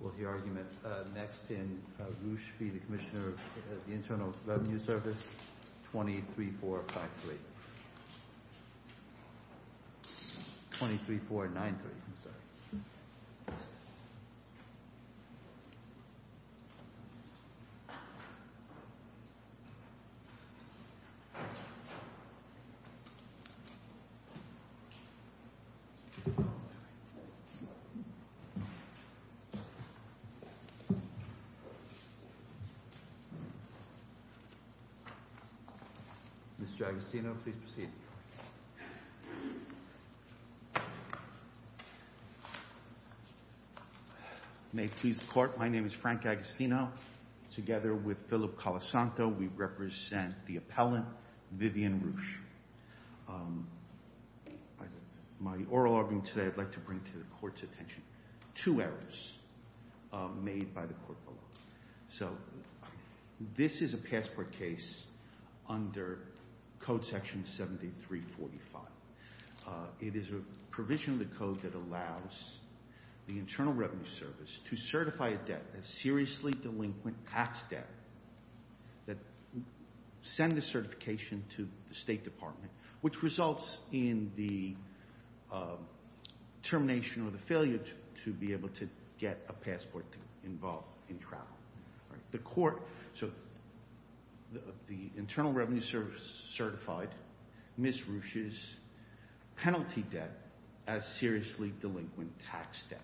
Will the argument next in Ruesch v. Commissioner of Internal Revenue Service, 23.4.93. Mr. Agostino, please proceed. May it please the Court, my name is Frank Agostino. Together with Philip Colasanto, we represent the appellant, Vivian Ruesch. My oral argument today, I'd like to bring to the Court's attention two errors made by the Court below. So this is a passport case under Code Section 7345. It is a provision of the Code that allows the Internal Revenue Service to certify a debt, a seriously delinquent tax debt, that send the certification to the State Department, which results in the termination or the failure to be able to get a passport involved in travel. The Court, so the Internal Revenue Service certified Ms. Ruesch's penalty debt as seriously delinquent tax debt.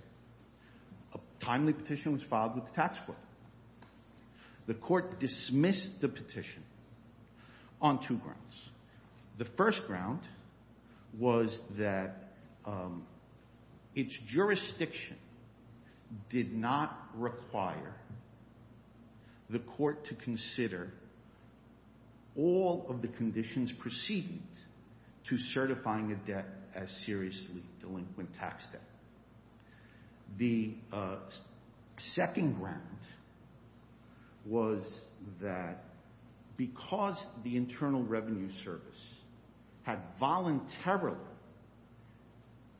A timely petition was filed with the tax court. The Court dismissed the petition on two grounds. The first ground was that its jurisdiction did not require the Court to consider all of the conditions preceding to certifying a debt as seriously delinquent tax debt. The second ground was that because the Internal Revenue Service had voluntarily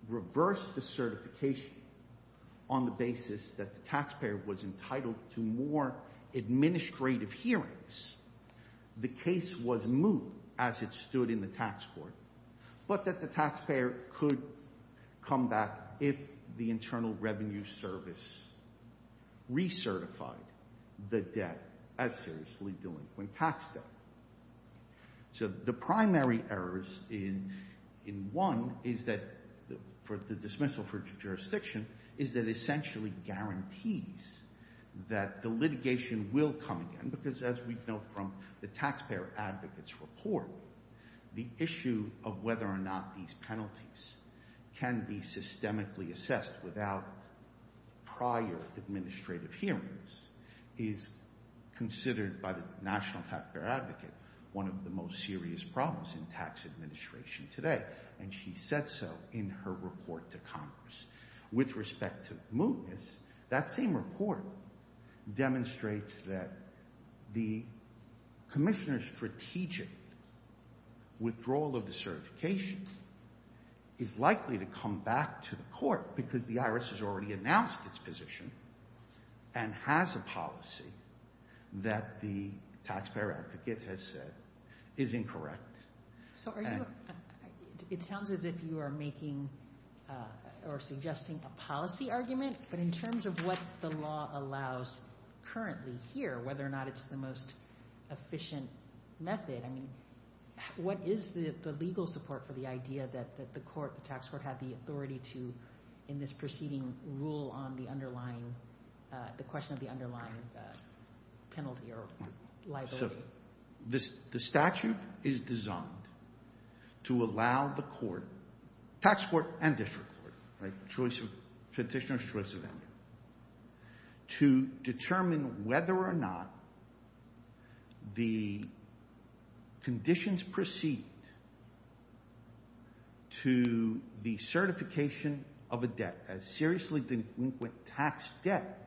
reversed the certification on the basis that the taxpayer was entitled to more administrative hearings, the case was moot as it stood in the tax court, but that the taxpayer could come back if the Internal Revenue Service recertified the debt as seriously delinquent tax debt. So the primary errors in one is that for the dismissal for jurisdiction is that essentially guarantees that the litigation will come again, because as we know from the taxpayer advocate's report, the issue of whether or not these penalties can be systemically assessed without prior administrative hearings is considered by the National Taxpayer Advocate one of the most serious problems in tax administration today, and she said so in her report to Congress. With respect to mootness, that same report demonstrates that the commissioner's strategic withdrawal of the certification is likely to come back to the court because the IRS has already announced its position and has a policy that the taxpayer advocate has said is incorrect. So it sounds as if you are making or suggesting a policy argument, but in terms of what the law allows currently here, whether or not it's the most efficient method, I mean, what is the legal support for the idea that the court, the tax court, had the authority to, in this proceeding, rule on the underlying, the question of the underlying penalty or liability? The statute is designed to allow the court, tax court and district court, petitioner's choice of ending, to determine whether or not the conditions proceed to the certification of a debt, as seriously the inquict tax debt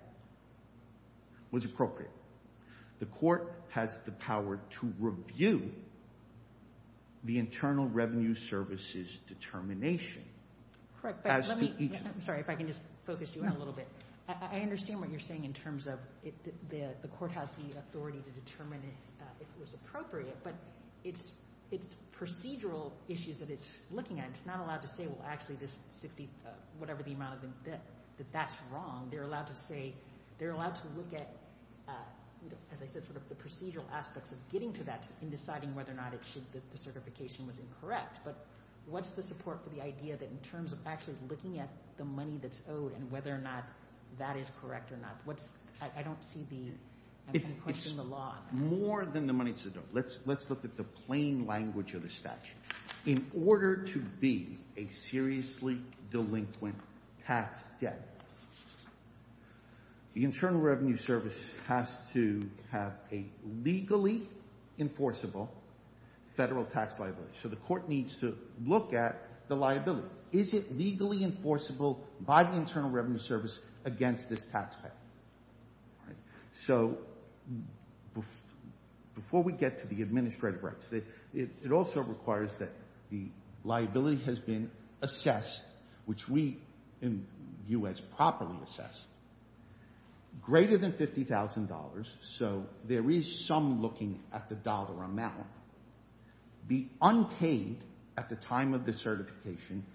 was appropriate. The court has the power to review the Internal Revenue Service's determination. I'm sorry if I can just focus you in a little bit. I understand what you're saying in terms of the court has the authority to determine if it was appropriate, but it's procedural issues that it's looking at. It's not allowed to say, well, actually, this 50, whatever the amount of the debt, that that's wrong. They're allowed to say, they're allowed to look at, as I said, sort of the procedural aspects of getting to that and deciding whether or not it should, that the certification was incorrect. But what's the support for the idea that in terms of actually looking at the money that's owed and whether or not that is correct or not, what's, I don't see the question of the law. Let's look at the plain language of the statute. In order to be a seriously delinquent tax debt, the Internal Revenue Service has to have a legally enforceable federal tax liability. So the court needs to look at the liability. Is it legally enforceable by the Internal Revenue Service against this tax debt? So before we get to the administrative rights, it also requires that the liability has been assessed, which we in the U.S. properly assess, greater than $50,000. So there is some looking at the dollar amount, be unpaid at the time of the certification,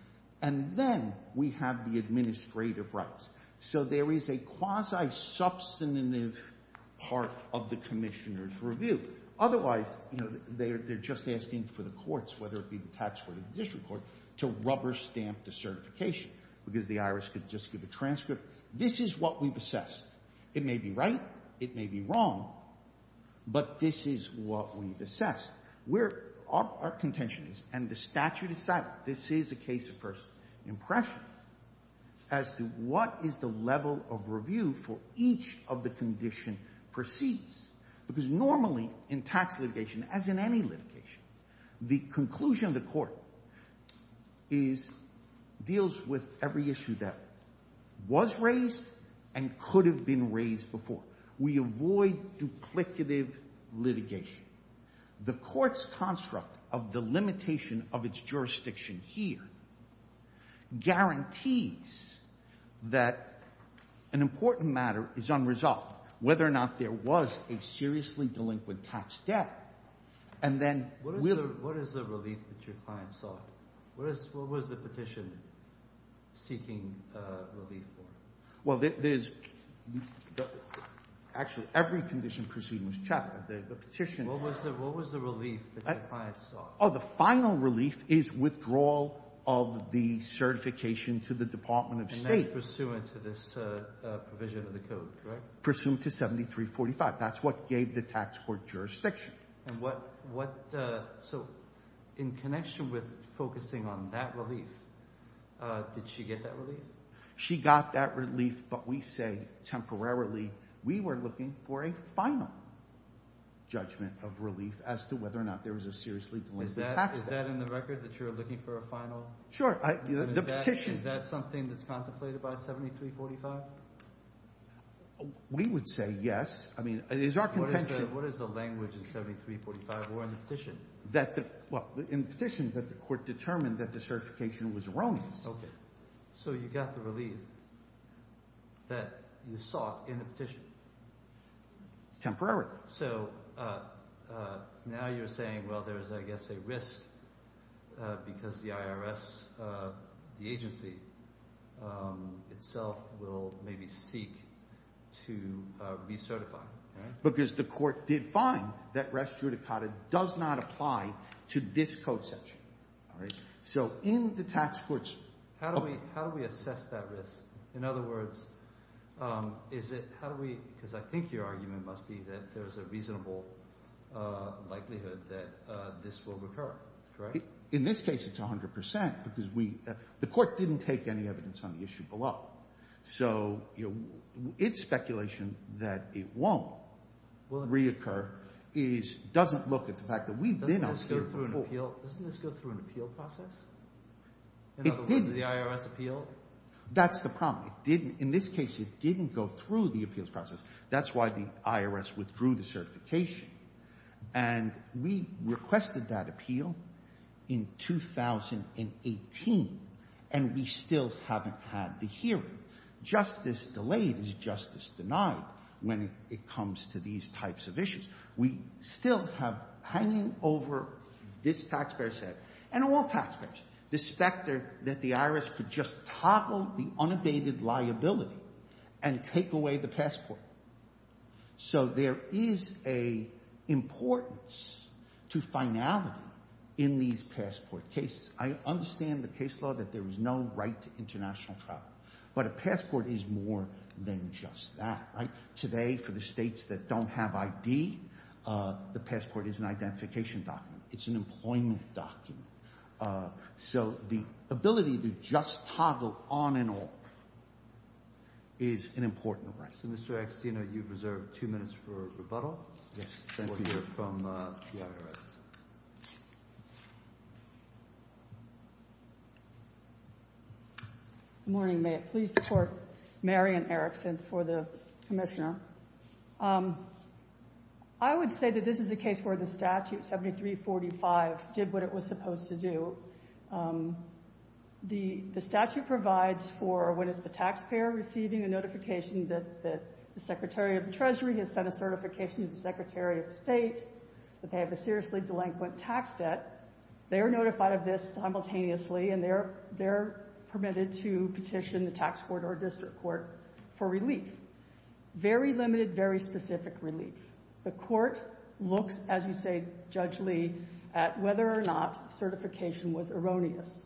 and then we have the administrative rights. So there is a quasi-substantive part of the commissioner's review. Otherwise, you know, they're just asking for the courts, whether it be the tax court or the district court, to rubber stamp the certification because the IRS could just give a transcript. This is what we've assessed. It may be right. It may be wrong. But this is what we've assessed. Our contention is, and the statute is silent, this is a case of first impression, as to what is the level of review for each of the condition proceeds. Because normally in tax litigation, as in any litigation, the conclusion of the court deals with every issue that was raised and could have been raised before. We avoid duplicative litigation. The court's construct of the limitation of its jurisdiction here guarantees that an important matter is unresolved, whether or not there was a seriously delinquent tax debt. And then we'll – What is the relief that your client sought? What was the petition seeking relief for? Well, there's – actually, every condition proceeding was chattel. The petition – What was the relief that your client sought? Oh, the final relief is withdrawal of the certification to the Department of State. And that's pursuant to this provision of the code, correct? Pursuant to 7345. That's what gave the tax court jurisdiction. And what – so in connection with focusing on that relief, did she get that relief? She got that relief, but we say temporarily we were looking for a final judgment of relief as to whether or not there was a seriously delinquent tax debt. Is that in the record that you're looking for a final – Sure. The petition – Is that something that's contemplated by 7345? We would say yes. I mean, it is our contention – What is the language in 7345 or in the petition? That the – well, in the petition, the court determined that the certification was erroneous. Okay. So you got the relief that you sought in the petition? Temporarily. So now you're saying, well, there's, I guess, a risk because the IRS, the agency itself, will maybe seek to recertify. Because the court did find that res judicata does not apply to this code section. All right. So in the tax courts – How do we assess that risk? In other words, is it – how do we – because I think your argument must be that there's a reasonable likelihood that this will recur. Correct? In this case, it's 100 percent because we – the court didn't take any evidence on the issue below. So its speculation that it won't reoccur is – doesn't look at the fact that we've been out here for four – So doesn't this go through an appeal process? It didn't. In other words, the IRS appeal? That's the problem. It didn't – in this case, it didn't go through the appeals process. That's why the IRS withdrew the certification. And we requested that appeal in 2018, and we still haven't had the hearing. Justice delayed is justice denied when it comes to these types of issues. We still have hanging over this taxpayer's head and all taxpayers the specter that the IRS could just toggle the unabated liability and take away the passport. So there is a importance to finality in these passport cases. I understand the case law that there is no right to international travel, but a passport is more than just that. Today, for the states that don't have ID, the passport is an identification document. It's an employment document. So the ability to just toggle on and off is an important right. So, Mr. Agstino, you've reserved two minutes for rebuttal. Yes, thank you. From the IRS. Good morning. May it please the Court. Marian Erickson for the Commissioner. I would say that this is a case where the statute 7345 did what it was supposed to do. The statute provides for when the taxpayer receiving a notification that the Secretary of the Treasury has sent a certification to the Secretary of State that they have a seriously delinquent tax debt. They are notified of this simultaneously, and they're permitted to petition the tax court or district court for relief. Very limited, very specific relief. The Court looks, as you say, Judge Lee, at whether or not certification was erroneous.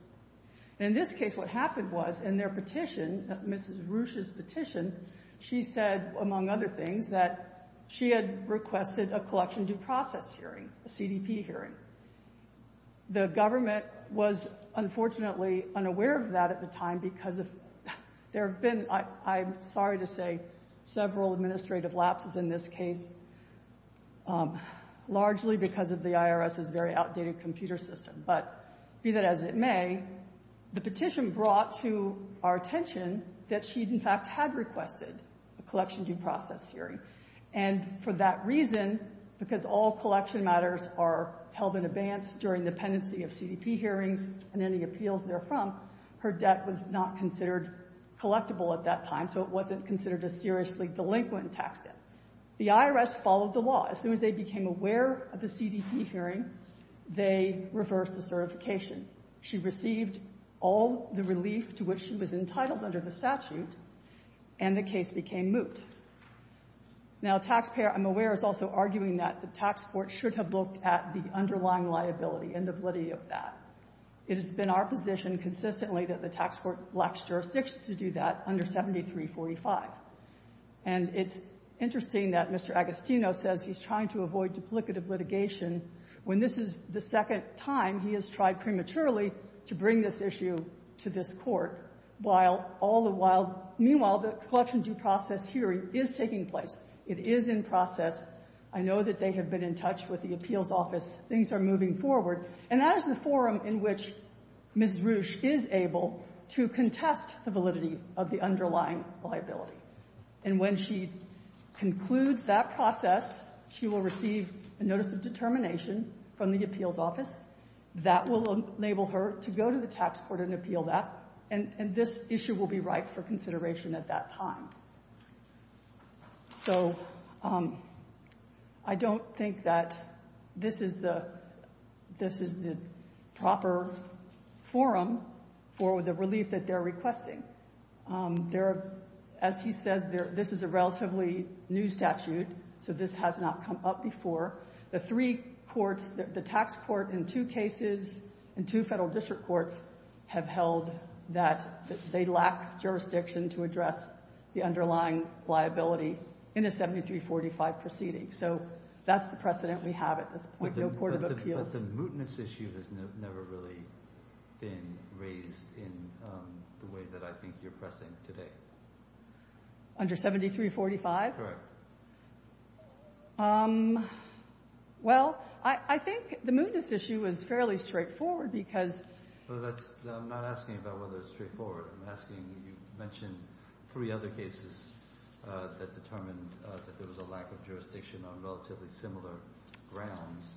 And in this case, what happened was, in their petition, Mrs. Roosh's petition, she said, among other things, that she had requested a collection due process hearing, a CDP hearing. The government was, unfortunately, unaware of that at the time because there have been, I'm sorry to say, several administrative lapses in this case, largely because of the IRS's very outdated computer system. But be that as it may, the petition brought to our attention that she, in fact, had requested a collection due process hearing. And for that reason, because all collection matters are held in advance during the pendency of CDP hearings and any appeals therefrom, her debt was not considered collectible at that time, so it wasn't considered a seriously delinquent tax debt. The IRS followed the law. As soon as they became aware of the CDP hearing, they reversed the certification. She received all the relief to which she was entitled under the statute, and the case became moot. Now, a taxpayer, I'm aware, is also arguing that the tax court should have looked at the underlying liability and the validity of that. It has been our position consistently that the tax court lacks jurisdiction to do that under 7345. And it's interesting that Mr. Agostino says he's trying to avoid duplicative litigation when this is the second time he has tried prematurely to bring this issue to this Court, while all the while — It is in process. I know that they have been in touch with the appeals office. Things are moving forward. And that is the forum in which Ms. Roosh is able to contest the validity of the underlying liability. And when she concludes that process, she will receive a notice of determination from the appeals office. That will enable her to go to the tax court and appeal that, and this issue will be ripe for consideration at that time. So I don't think that this is the proper forum for the relief that they're requesting. As he says, this is a relatively new statute, so this has not come up before. The three courts, the tax court in two cases and two Federal district courts, have held that they lack jurisdiction to address the underlying liability in a 7345 proceeding. So that's the precedent we have at this point. No court of appeals. But the mootness issue has never really been raised in the way that I think you're pressing today. Under 7345? Correct. Well, I think the mootness issue is fairly straightforward, because I'm not asking about whether it's straightforward. I'm asking you mentioned three other cases that determined that there was a lack of jurisdiction on relatively similar grounds.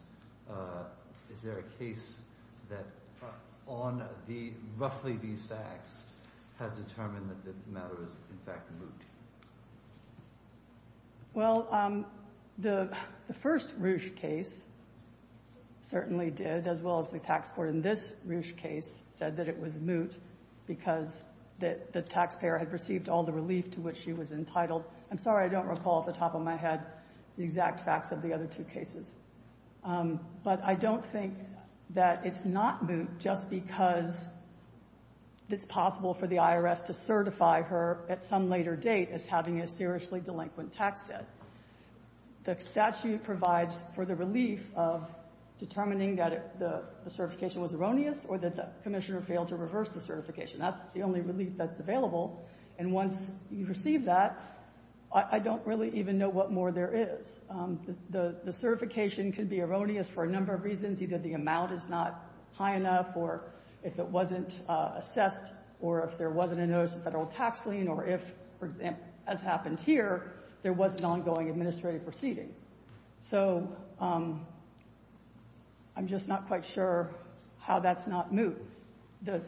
Is there a case that on roughly these facts has determined that the matter is in fact moot? Well, the first Roosh case certainly did, as well as the tax court in this Roosh case, said that it was moot because the taxpayer had received all the relief to which she was entitled. I'm sorry I don't recall off the top of my head the exact facts of the other two cases. But I don't think that it's not moot just because it's possible for the IRS to certify her at some later date as having a seriously delinquent tax debt. The statute provides for the relief of determining that the certification was erroneous or that the Commissioner failed to reverse the certification. That's the only relief that's available. And once you receive that, I don't really even know what more there is. The certification could be erroneous for a number of reasons. Either the amount is not high enough, or if it wasn't assessed, or if there wasn't a notice of Federal tax lien, or if, for example, as happened here, there was an ongoing administrative proceeding. So I'm just not quite sure how that's not moot.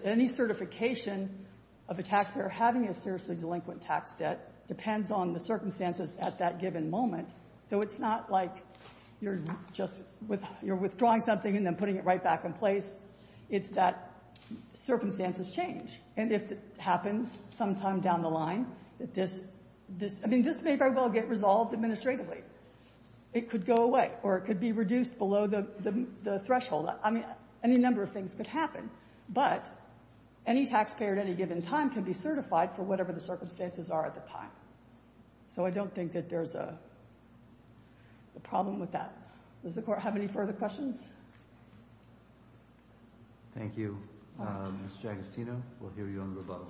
Any certification of a taxpayer having a seriously delinquent tax debt depends on the circumstances at that given moment. So it's not like you're just withdrawing something and then putting it right back in place. It's that circumstances change. And if it happens sometime down the line, this may very well get resolved administratively. It could go away, or it could be reduced below the threshold. I mean, any number of things could happen. But any taxpayer at any given time could be certified for whatever the circumstances are at the time. So I don't think that there's a problem with that. Does the Court have any further questions? Thank you. Mr. Agostino, we'll hear you on the revote.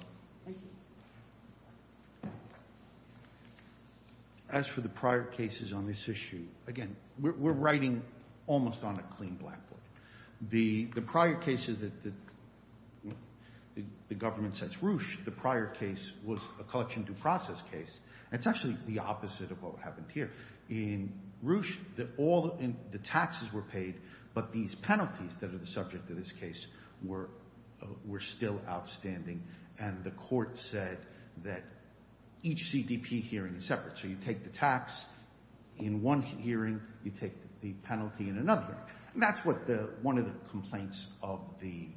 Thank you. As for the prior cases on this issue, again, we're writing almost on a clean blackboard. The prior cases that the government sets roosh, the prior case was a collection due process case. It's actually the opposite of what happened here. In roosh, all the taxes were paid, but these penalties that are the subject of this case were still outstanding. And the Court said that each CDP hearing is separate. So you take the tax in one hearing. You take the penalty in another hearing. That's one of the complaints of the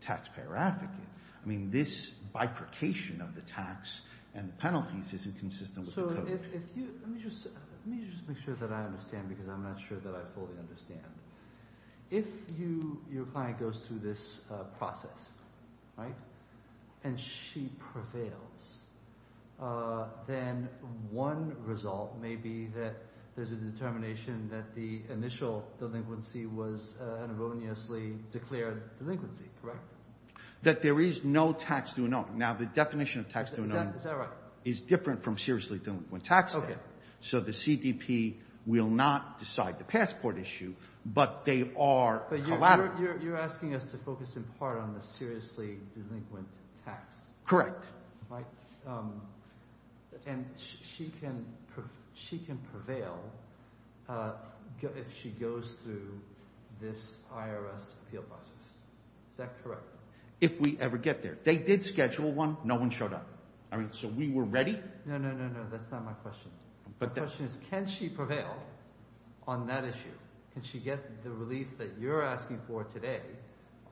taxpayer advocate. I mean, this bifurcation of the tax and penalties isn't consistent with the Code. So if you – let me just make sure that I understand because I'm not sure that I fully understand. If your client goes through this process and she prevails, then one result may be that there's a determination that the initial delinquency was an erroneously declared delinquency, correct? That there is no tax due. Now, the definition of tax due is different from seriously delinquent tax debt. So the CDP will not decide the passport issue, but they are collateral. But you're asking us to focus in part on the seriously delinquent tax. Correct. And she can prevail if she goes through this IRS appeal process. Is that correct? If we ever get there. They did schedule one. No one showed up. So we were ready. No, no, no, no. That's not my question. My question is can she prevail on that issue? Can she get the relief that you're asking for today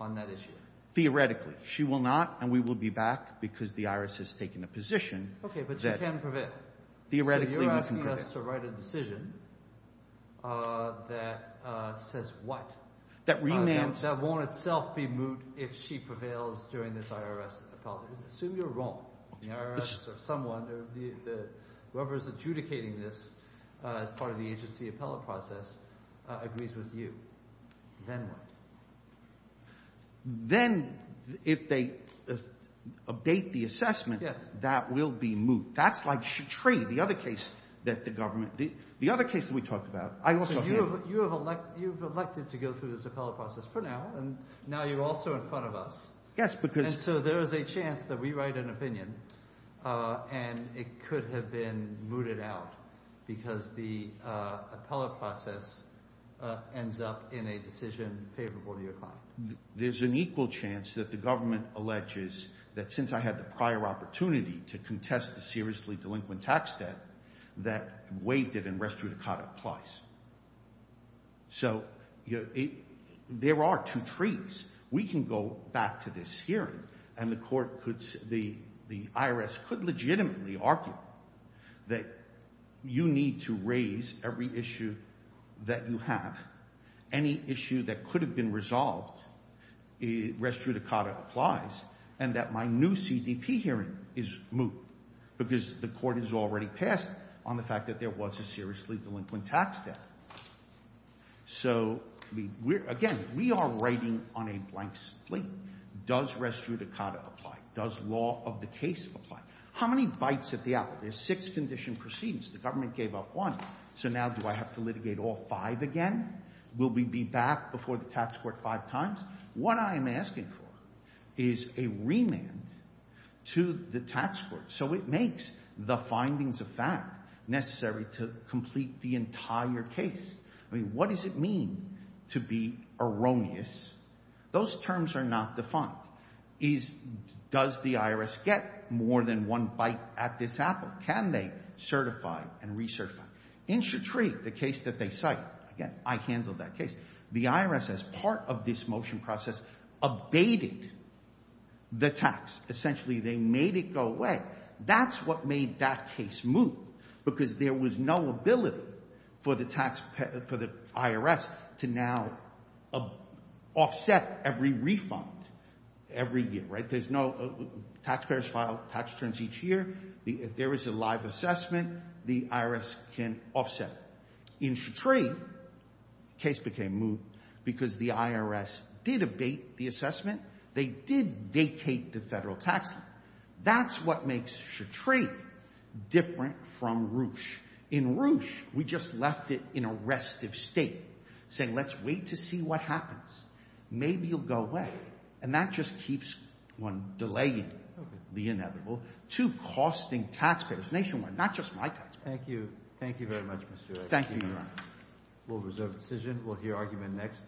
on that issue? Theoretically. She will not, and we will be back because the IRS has taken a position that theoretically we can prevail. Okay, but she can prevail. So you're asking us to write a decision that says what? That remands. That won't itself be moot if she prevails during this IRS appellate. Assume you're wrong. The IRS or someone, whoever is adjudicating this as part of the agency appellate process agrees with you. Then what? Then if they update the assessment, that will be moot. That's like Shetree, the other case that the government did. The other case that we talked about. You have elected to go through this appellate process for now, and now you're also in front of us. Yes, because. And so there is a chance that we write an opinion, and it could have been mooted out because the appellate process ends up in a decision favorable to your client. There's an equal chance that the government alleges that since I had the prior opportunity to contest the seriously delinquent tax debt, that waived it in res judicata plies. So there are two trees. We can go back to this hearing, and the IRS could legitimately argue that you need to raise every issue that you have. Any issue that could have been resolved, res judicata applies, and that my new CDP hearing is moot because the court has already passed on the fact that there was a seriously delinquent tax debt. So again, we are writing on a blank slate. Does res judicata apply? Does law of the case apply? How many bites at the apple? There's six condition proceedings. The government gave up one, so now do I have to litigate all five again? Will we be back before the tax court five times? What I am asking for is a remand to the tax court so it makes the findings of fact necessary to complete the entire case. I mean, what does it mean to be erroneous? Those terms are not defined. Does the IRS get more than one bite at this apple? Can they certify and recertify? In Chetreek, the case that they cite, again, I handled that case. The IRS, as part of this motion process, abated the tax. Essentially, they made it go away. That's what made that case moot because there was no ability for the IRS to now offset every refund every year. There's no taxpayers file tax returns each year. If there is a live assessment, the IRS can offset it. In Chetreek, the case became moot because the IRS did abate the assessment. They did vacate the federal tax. That's what makes Chetreek different from Roosh. In Roosh, we just left it in a restive state, saying let's wait to see what happens. Maybe it will go away. And that just keeps one delaying the inevitable to costing taxpayers nationwide, not just my taxpayers. Thank you. Thank you very much, Mr. Eggers. Thank you, Your Honor. We'll reserve the decision. We'll hear argument next.